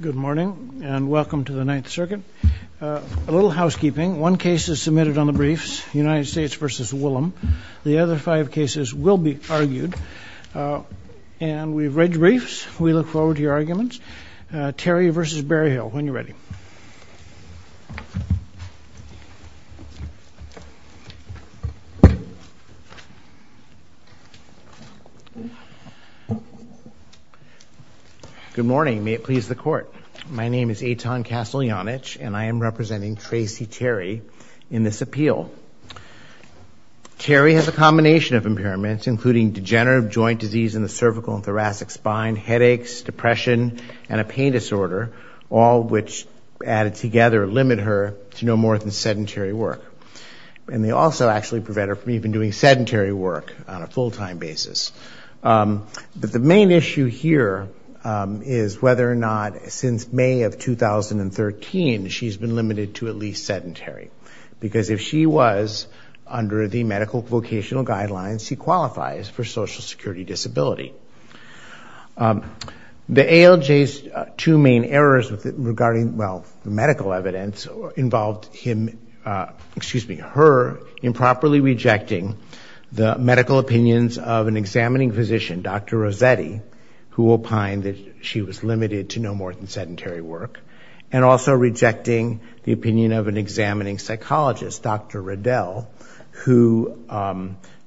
Good morning and welcome to the Ninth Circuit. A little housekeeping. One case is submitted on the briefs, United States v. Willem. The other five cases will be argued. And we've read the briefs. We look forward to your arguments. Good morning. May it please the Court. My name is Eitan Kasteljanich, and I am representing Tracey Terry in this appeal. Terry has a combination of impairments, including degenerative joint disease in the cervical and thoracic spine, headaches, depression, and a pain disorder, all which added together limit her to no more than sedentary work. And they also actually prevent her from even doing sedentary work on a full-time basis. But the main issue here is whether or not, since May of 2013, she's been limited to at least sedentary. Because if she was under the medical vocational guidelines, she qualifies for Social Security disability. The ALJ's two main errors regarding, well, the medical evidence involved him, excuse me, her improperly rejecting the opinion of an examining physician, Dr. Rossetti, who opined that she was limited to no more than sedentary work, and also rejecting the opinion of an examining psychologist, Dr. Riddell, who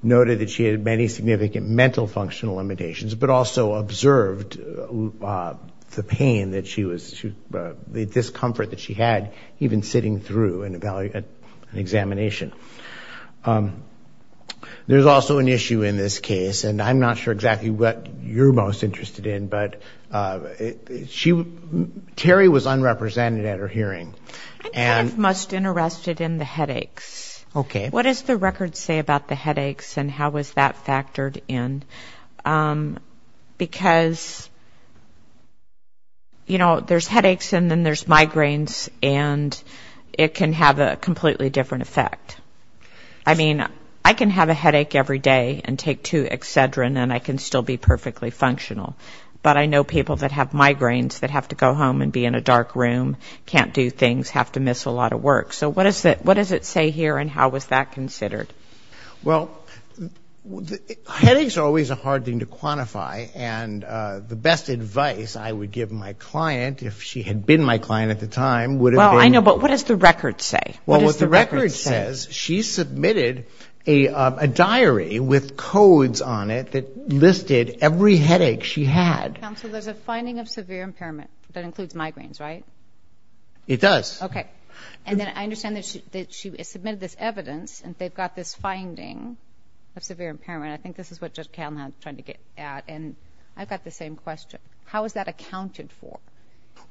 noted that she had many significant mental functional limitations, but also observed the pain that she was, the discomfort that she had even sitting through an examination. There's also an issue in this case, and I'm not sure exactly what you're most interested in, but she, Terry was unrepresented at her hearing. I'm kind of most interested in the headaches. Okay. What does the record say about the headaches, and how was that factored in? Because, you know, there's headaches, and then there's migraines, and it can have a completely different effect. I mean, I can have a headache every day and take two Excedrin, and I can still be perfectly functional. But I know people that have migraines that have to go home and be in a dark room, can't do things, have to miss a lot of things that are considered. Well, headaches are always a hard thing to quantify, and the best advice I would give my client, if she had been my client at the time, would have been... Well, I know, but what does the record say? Well, what the record says, she submitted a diary with codes on it that listed every headache she had. Counsel, there's a finding of severe impairment. That includes migraines, right? It does. Okay. And then I understand that she submitted this evidence, and they've got this finding of severe impairment. I think this is what Judge Kalin had tried to get at, and I've got the same question. How is that accounted for?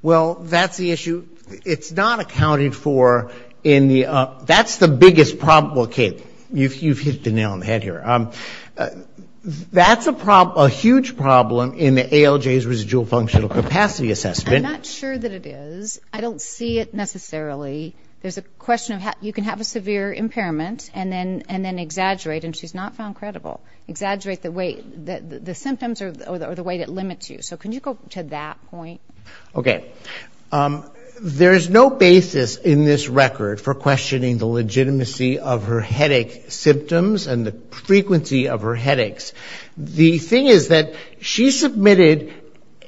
Well, that's the issue. It's not accounted for in the... That's the biggest problem. Okay, you've hit the nail on the head here. That's a huge problem in the ALJ's residual functional capacity assessment. I'm not sure that it is. I don't see it necessarily. There's a question of you can have a severe impairment and then exaggerate, and she's not found credible. Exaggerate the symptoms or the way it limits you. So can you go to that point? Okay. There's no basis in this record for questioning the legitimacy of her headache symptoms and the frequency of her headaches. The thing is that she submitted...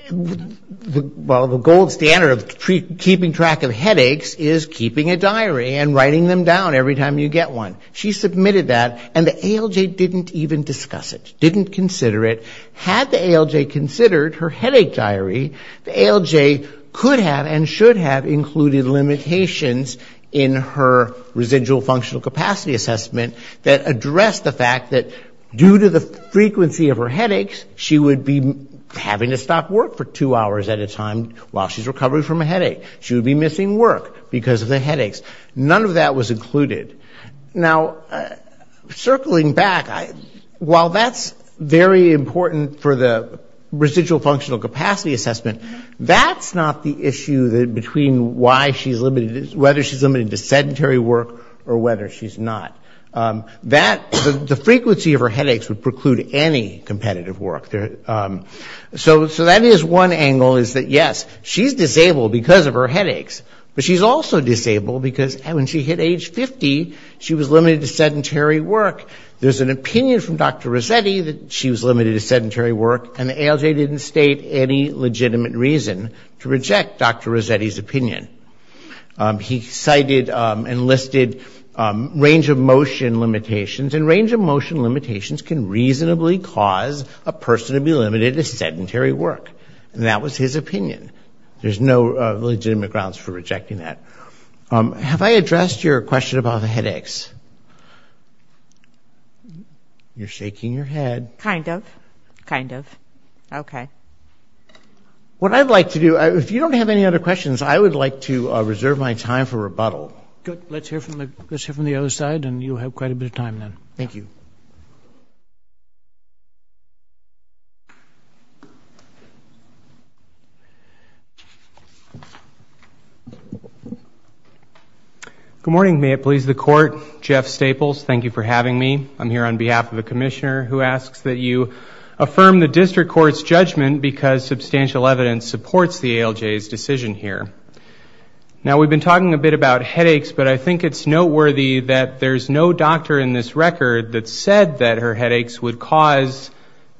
Well, the gold standard of keeping track of headaches is keeping track of keeping a diary and writing them down every time you get one. She submitted that, and the ALJ didn't even discuss it, didn't consider it. Had the ALJ considered her headache diary, the ALJ could have and should have included limitations in her residual functional capacity assessment that addressed the fact that due to the frequency of her headaches, she would be having to stop work for two hours at a time while she's recovering from a headache. She would be missing work because of the headaches. None of that was included. Now, circling back, while that's very important for the residual functional capacity assessment, that's not the issue between whether she's limited to sedentary work or whether she's not. The frequency of her headaches would preclude any competitive work. So that is one angle, is that yes, she's disabled because of her headaches, but she's also disabled because when she hit age 50, she was limited to sedentary work. There's an opinion from Dr. Rossetti that she was limited to sedentary work, and the ALJ didn't state any legitimate reason to reject Dr. Rossetti's opinion. He cited and listed range-of-motion limitations, and range-of-motion limitations can reasonably cause a personality disorder. A person would be limited to sedentary work, and that was his opinion. There's no legitimate grounds for rejecting that. Have I addressed your question about the headaches? You're shaking your head. What I'd like to do, if you don't have any other questions, I would like to reserve my time for rebuttal. Let's hear from the other side, and you'll have quite a bit of time then. Good morning, may it please the Court. Jeff Staples, thank you for having me. I'm here on behalf of a commissioner who asks that you affirm the district court's judgment because substantial evidence supports the ALJ's decision here. Now, we've been talking a bit about headaches, but I think it's noteworthy that there's no doctor in this record that said that her headaches would cause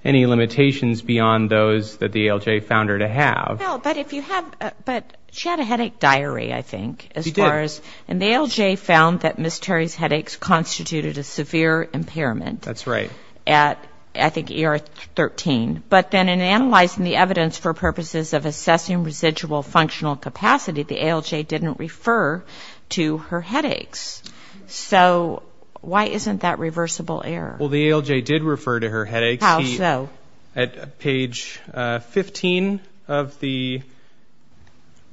any limitations beyond those that the ALJ found her to have. Well, but if you have, but she had a headache diary, I think, as far as, and the ALJ found that Ms. Terry's headaches constituted a severe impairment at, I think, ER 13. But then in analyzing the evidence for purposes of assessing residual functional capacity, the ALJ didn't refer to her headaches. So why isn't that reversible error? Well, the ALJ did refer to her headaches. At page 15 of the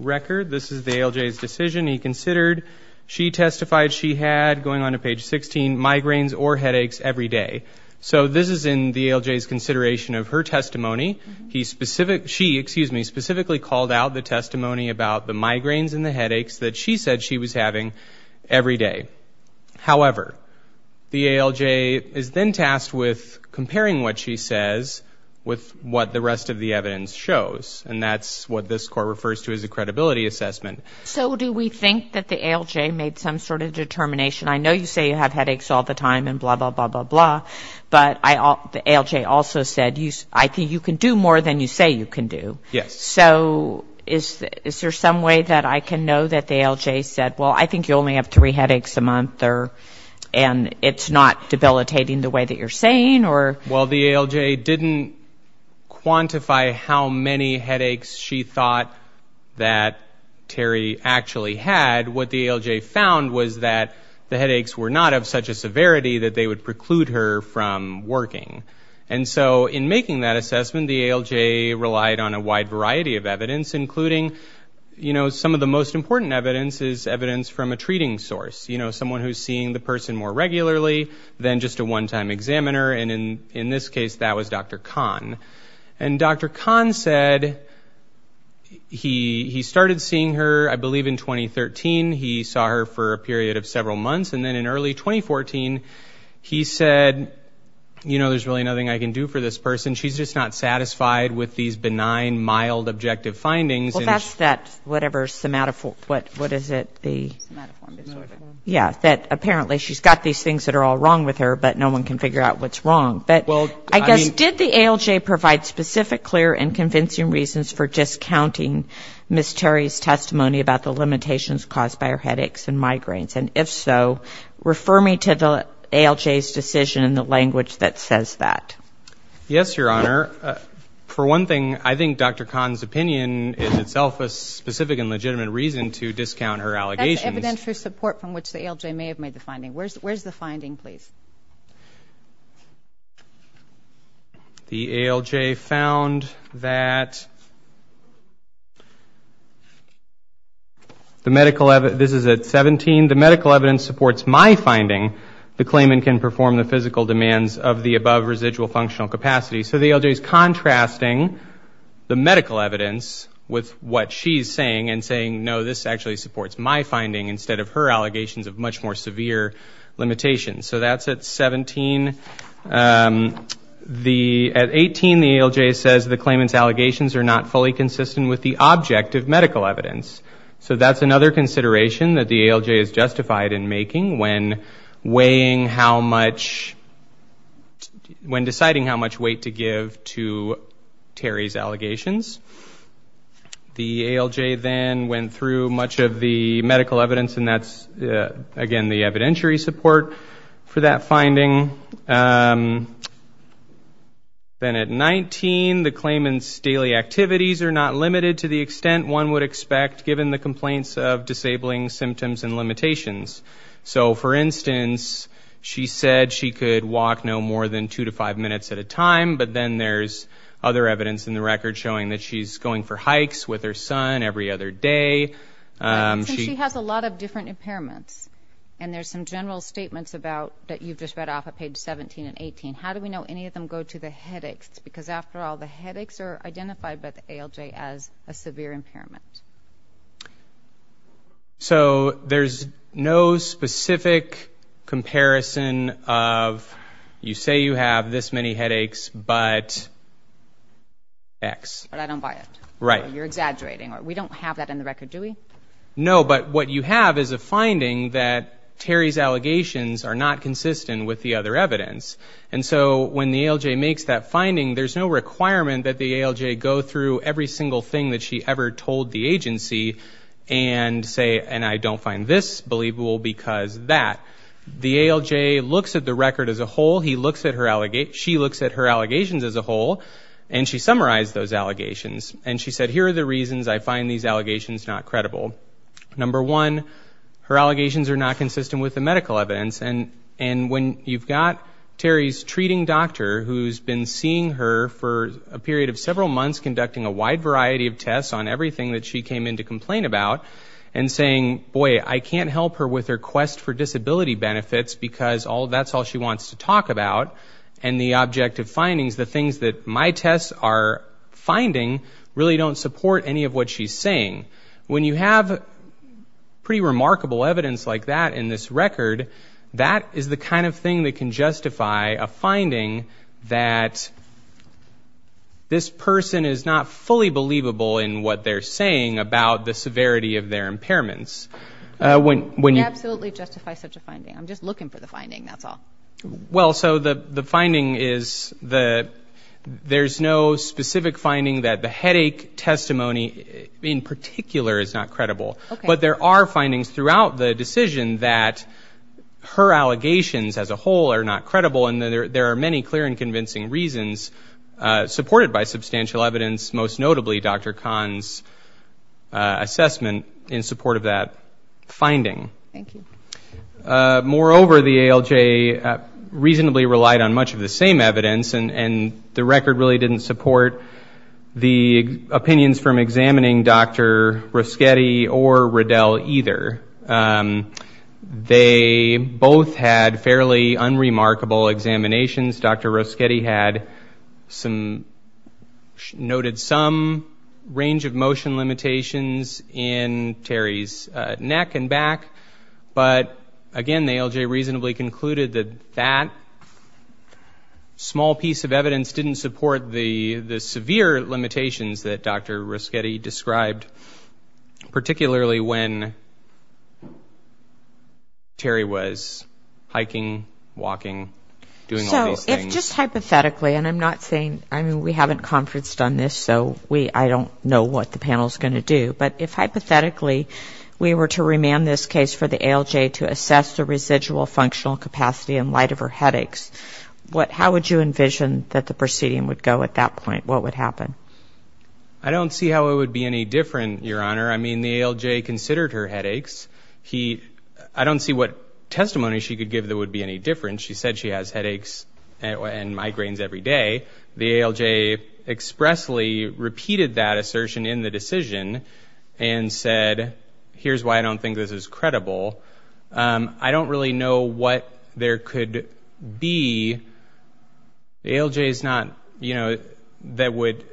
record, this is the ALJ's decision. He considered, she testified she had, going on to page 16, migraines or headaches every day. So this is in the ALJ's consideration of her testimony. She specifically called out the testimony about the migraines and the headaches that she said she was having every day. However, the ALJ is then tasked with comparing what she says with what the rest of the evidence shows, and that's what this court refers to as a credibility assessment. So do we think that the ALJ made some sort of determination? I know you say you have headaches all the time and blah, blah, blah, blah, blah, but the ALJ also said, I think you can do more than you say you can do. So is there some way that I can know that the ALJ said, well, I think you only have three headaches a month, and it's not debilitating the way that you're saying? Well, the ALJ didn't quantify how many headaches she thought that Terry actually had. What the ALJ found was that the headaches were not of such a severity that they would preclude her from working. And so in making that assessment, the ALJ relied on a wide variety of evidence, including some of the most important evidence is evidence from a treating source, someone who's seeing the person more regularly than just a one-time examiner. And Dr. Kahn said he started seeing her, I believe, in 2013. He saw her for a period of several months, and then in early 2014, he said, you know, there's really nothing I can do for this person. She's just not satisfied with these benign, mild, objective findings. Well, that's that whatever somatoform, what is it? Yeah, that apparently she's got these things that are all wrong with her, but no one can figure out what's wrong. But I guess, did the ALJ provide specific, clear, and convincing reasons for discounting Ms. Terry's testimony about the limitations caused by her headaches and migraines? And if so, refer me to the ALJ's decision in the language that says that. Yes, Your Honor. For one thing, I think Dr. Kahn's opinion is itself a specific and legitimate reason to discount her allegations. That's evidence for support from which the ALJ may have made the finding. Where's the finding, please? The ALJ found that the medical evidence, this is at 17, the medical evidence supports my finding, the claimant can perform the physical demands of the above residual functional capacity. So the ALJ is contrasting the medical evidence with what she's saying and saying, no, this actually supports my finding instead of her allegations of much more severe limitations. So that's at 17. At 18, the ALJ says the claimant's allegations are not fully consistent with the objective medical evidence. So that's another consideration that the ALJ is justified in making when weighing how much, when deciding how much weight to give to Terry's allegations. The ALJ then went through much of the medical evidence, and that's, again, the evidentiary support for that finding. Then at 19, the claimant's daily activities are not limited to the extent one would expect given the complaints of disabling symptoms and limitations. So, for instance, she said she could walk no more than two to five minutes at a time, but then there's other evidence in the record showing that she's going for hikes with her son every other day. She has a lot of different impairments, and there's some general statements about, that you've just read off at page 17 and 18. How do we know any of them go to the headaches? Because, after all, the headaches are identified by the ALJ as a severe impairment. So there's no specific comparison of, you say you have this many headaches, but X. But I don't buy it. You're exaggerating. We don't have that in the record, do we? No, but what you have is a finding that Terry's allegations are not consistent with the other evidence. And so when the ALJ makes that finding, there's no requirement that the ALJ go through every single thing that she ever told the agency and say, and I don't find this believable because that. The ALJ looks at the record as a whole. She looks at her allegations as a whole, and she summarized those allegations. And she said, here are the reasons I find these allegations not credible. Number one, her allegations are not consistent with the medical evidence. And when you've got Terry's treating doctor who's been seeing her for a period of several months, conducting a wide variety of tests on everything that she came in to complain about, and saying, boy, I can't help her with her quest for disability benefits because that's all she wants to talk about, and the objective findings, the things that my tests are finding, really don't support any of what she's saying. When you have pretty remarkable evidence like that in this record, that is the kind of thing that can justify a finding that this person is not fully believable in what they're saying about the severity of their impairments. It absolutely justifies such a finding. I'm just looking for the finding, that's all. Well, so the finding is there's no specific finding that the headache testimony in particular is not credible. But there are findings throughout the decision that her allegations as a whole are not credible, and there are many clear and convincing reasons supported by substantial evidence, most notably Dr. Kahn's assessment in support of that finding. Thank you. Moreover, the ALJ reasonably relied on much of the same evidence, and the record really didn't support the opinions from examining Dr. Roschetti or Riddell either. They both had fairly unremarkable examinations. Dr. Roschetti noted some range of motion limitations in Terry's neck and back, but again, the ALJ reasonably concluded that that small piece of evidence didn't support the severe limitations that Dr. Roschetti described, particularly when Terry was hiking, walking, doing all these things. So if just hypothetically, and I'm not saying, I mean, we haven't conferenced on this, so I don't know what the panel's going to do, but if hypothetically we were to remand this case for the ALJ to assess the residual functional capacity in light of her headaches, how would you envision that the proceeding would go at that point? What would happen? I don't see how it would be any different, Your Honor. I mean, the ALJ considered her headaches. I don't see what testimony she could give that would be any different. She said she has headaches and migraines every day. The ALJ expressly repeated that assertion in the decision and said, here's why I don't think this is credible. I don't really know what there could be. The ALJ is not, you know, that would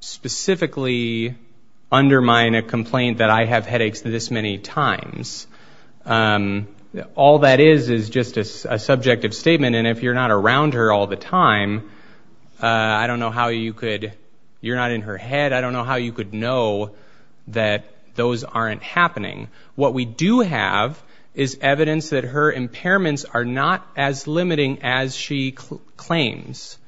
specifically undermine a complaint that I have headaches this many times. All that is is just a subjective statement, and if you're not around her all the time, I don't know how you could, you're not in her head. I don't know how you could know that those aren't happening. What we do have is evidence that her impairments are not as limiting as she claims.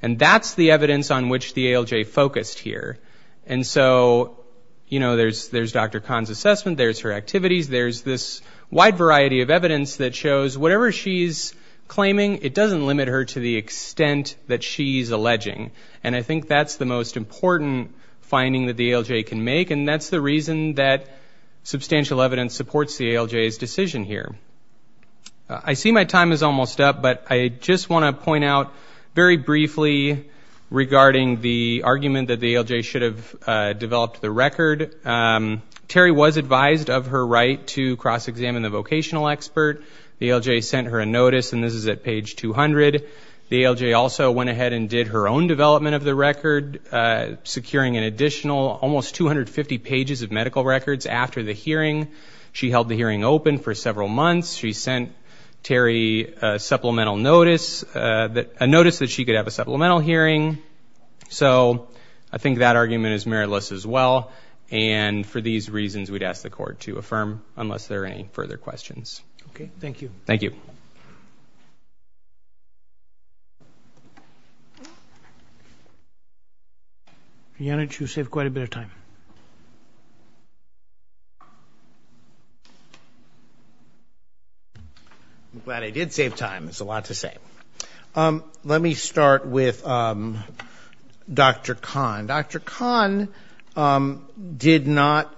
And that's the evidence on which the ALJ focused here. And so, you know, there's Dr. Kahn's assessment, there's her activities, there's this wide variety of evidence that shows whatever she's claiming, it doesn't limit her to the extent that she's alleging. And I think that's the most important finding that the ALJ can make, and that's the reason that substantial evidence supports the ALJ's decision here. I see my time is almost up, but I just want to point out very briefly regarding the argument that the ALJ should have developed the record. Terry was advised of her right to cross-examine the vocational expert. The ALJ sent her a notice, and this is at page 200. The ALJ also went ahead and did her own development of the record, securing an additional almost 250 pages of medical records after the hearing. She held the hearing open for several months. She sent Terry a supplemental notice, a notice that she could have a supplemental hearing. So I think that argument is meritless as well, and for these reasons we'd ask the Court to affirm, unless there are any further questions. Thank you. Yanich, you saved quite a bit of time. I'm glad I did save time. There's a lot to say. Let me start with Dr. Kahn. Dr. Kahn did not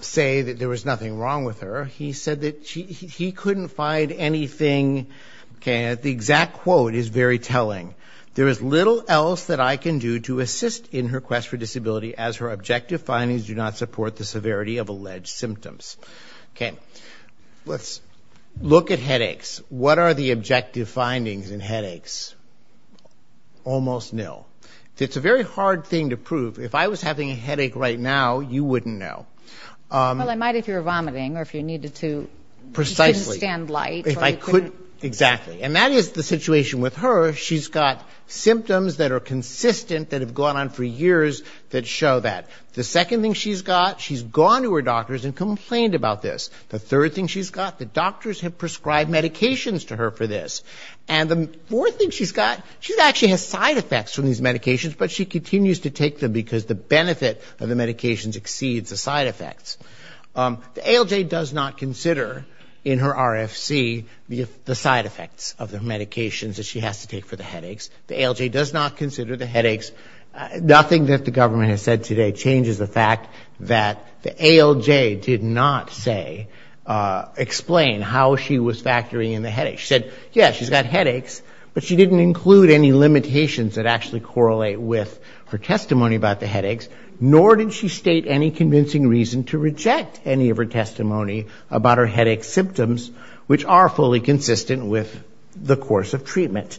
say that there was nothing wrong with her. He said that he couldn't find anything. The exact quote is very telling. Let's look at headaches. It's a very hard thing to prove. If I was having a headache right now, you wouldn't know. Precisely. And that is the situation with her. She's got symptoms that are consistent that have gone on for years that show that. The second thing she's got, she's gone to her doctors and complained about this. The third thing she's got, the doctors have prescribed medications to her for this. And the fourth thing she's got, she actually has side effects from these medications, but she continues to take them because the benefit of the medications exceeds the side effects. The ALJ does not consider in her RFC the side effects of the medications that she has to take for the headaches. The ALJ does not consider the headaches. Nothing that the government has said today changes the fact that the ALJ did not say, explain how she was factoring in the headaches. She said, yes, she's got headaches, but she didn't include any limitations that actually correlate with her testimony about the headaches, nor did she state any convincing reason to reject any of her testimony about her headache symptoms, which are fully consistent with the course of treatment.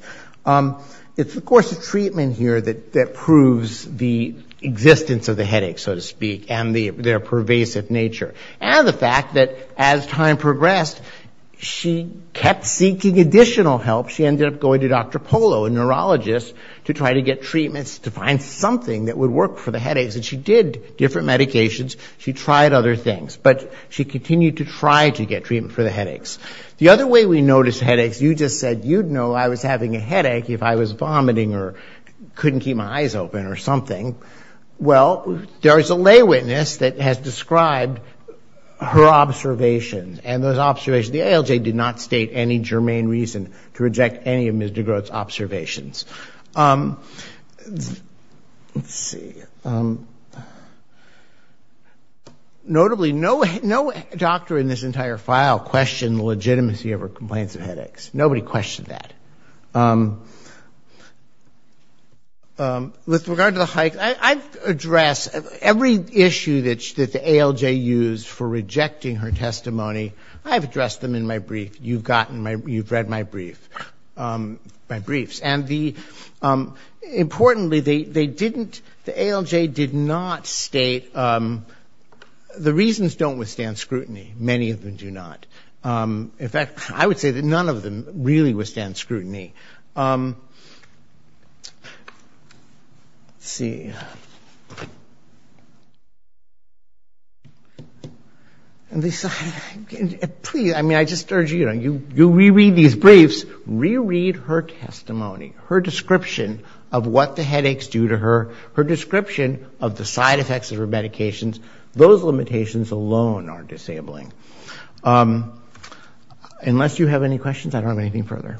It's the course of treatment here that proves the existence of the headaches, so to speak, and their pervasive nature, and the fact that as time progressed, she kept seeking additional help. She ended up going to Dr. Polo, a neurologist, to try to get treatments to find something that would work for the headaches, and she did different medications. She tried other things, but she continued to try to get treatment for the headaches. The other way we notice headaches, you just said you'd know I was having a headache if I was vomiting or couldn't keep my eyes open or something. Well, there is a lay witness that has described her observations, and those observations, the ALJ did not state any germane reason to reject any of Ms. DeGroat's observations. Let's see. Notably, no doctor in this entire file questioned the legitimacy of her complaints of headaches. Nobody questioned that. With regard to the height, I've addressed every issue that the ALJ used for rejecting her testimony. I've addressed them in my brief. You've read my briefs. Importantly, the ALJ did not state the reasons don't withstand scrutiny. Many of them do not. In fact, I would say that none of them really withstand scrutiny. Let's see. Please, I just urge you, you reread these briefs, reread her testimony, her description of what the headaches do to her, her description of the side effects of her medications. Those limitations alone are disabling. Unless you have any questions, I don't have anything further.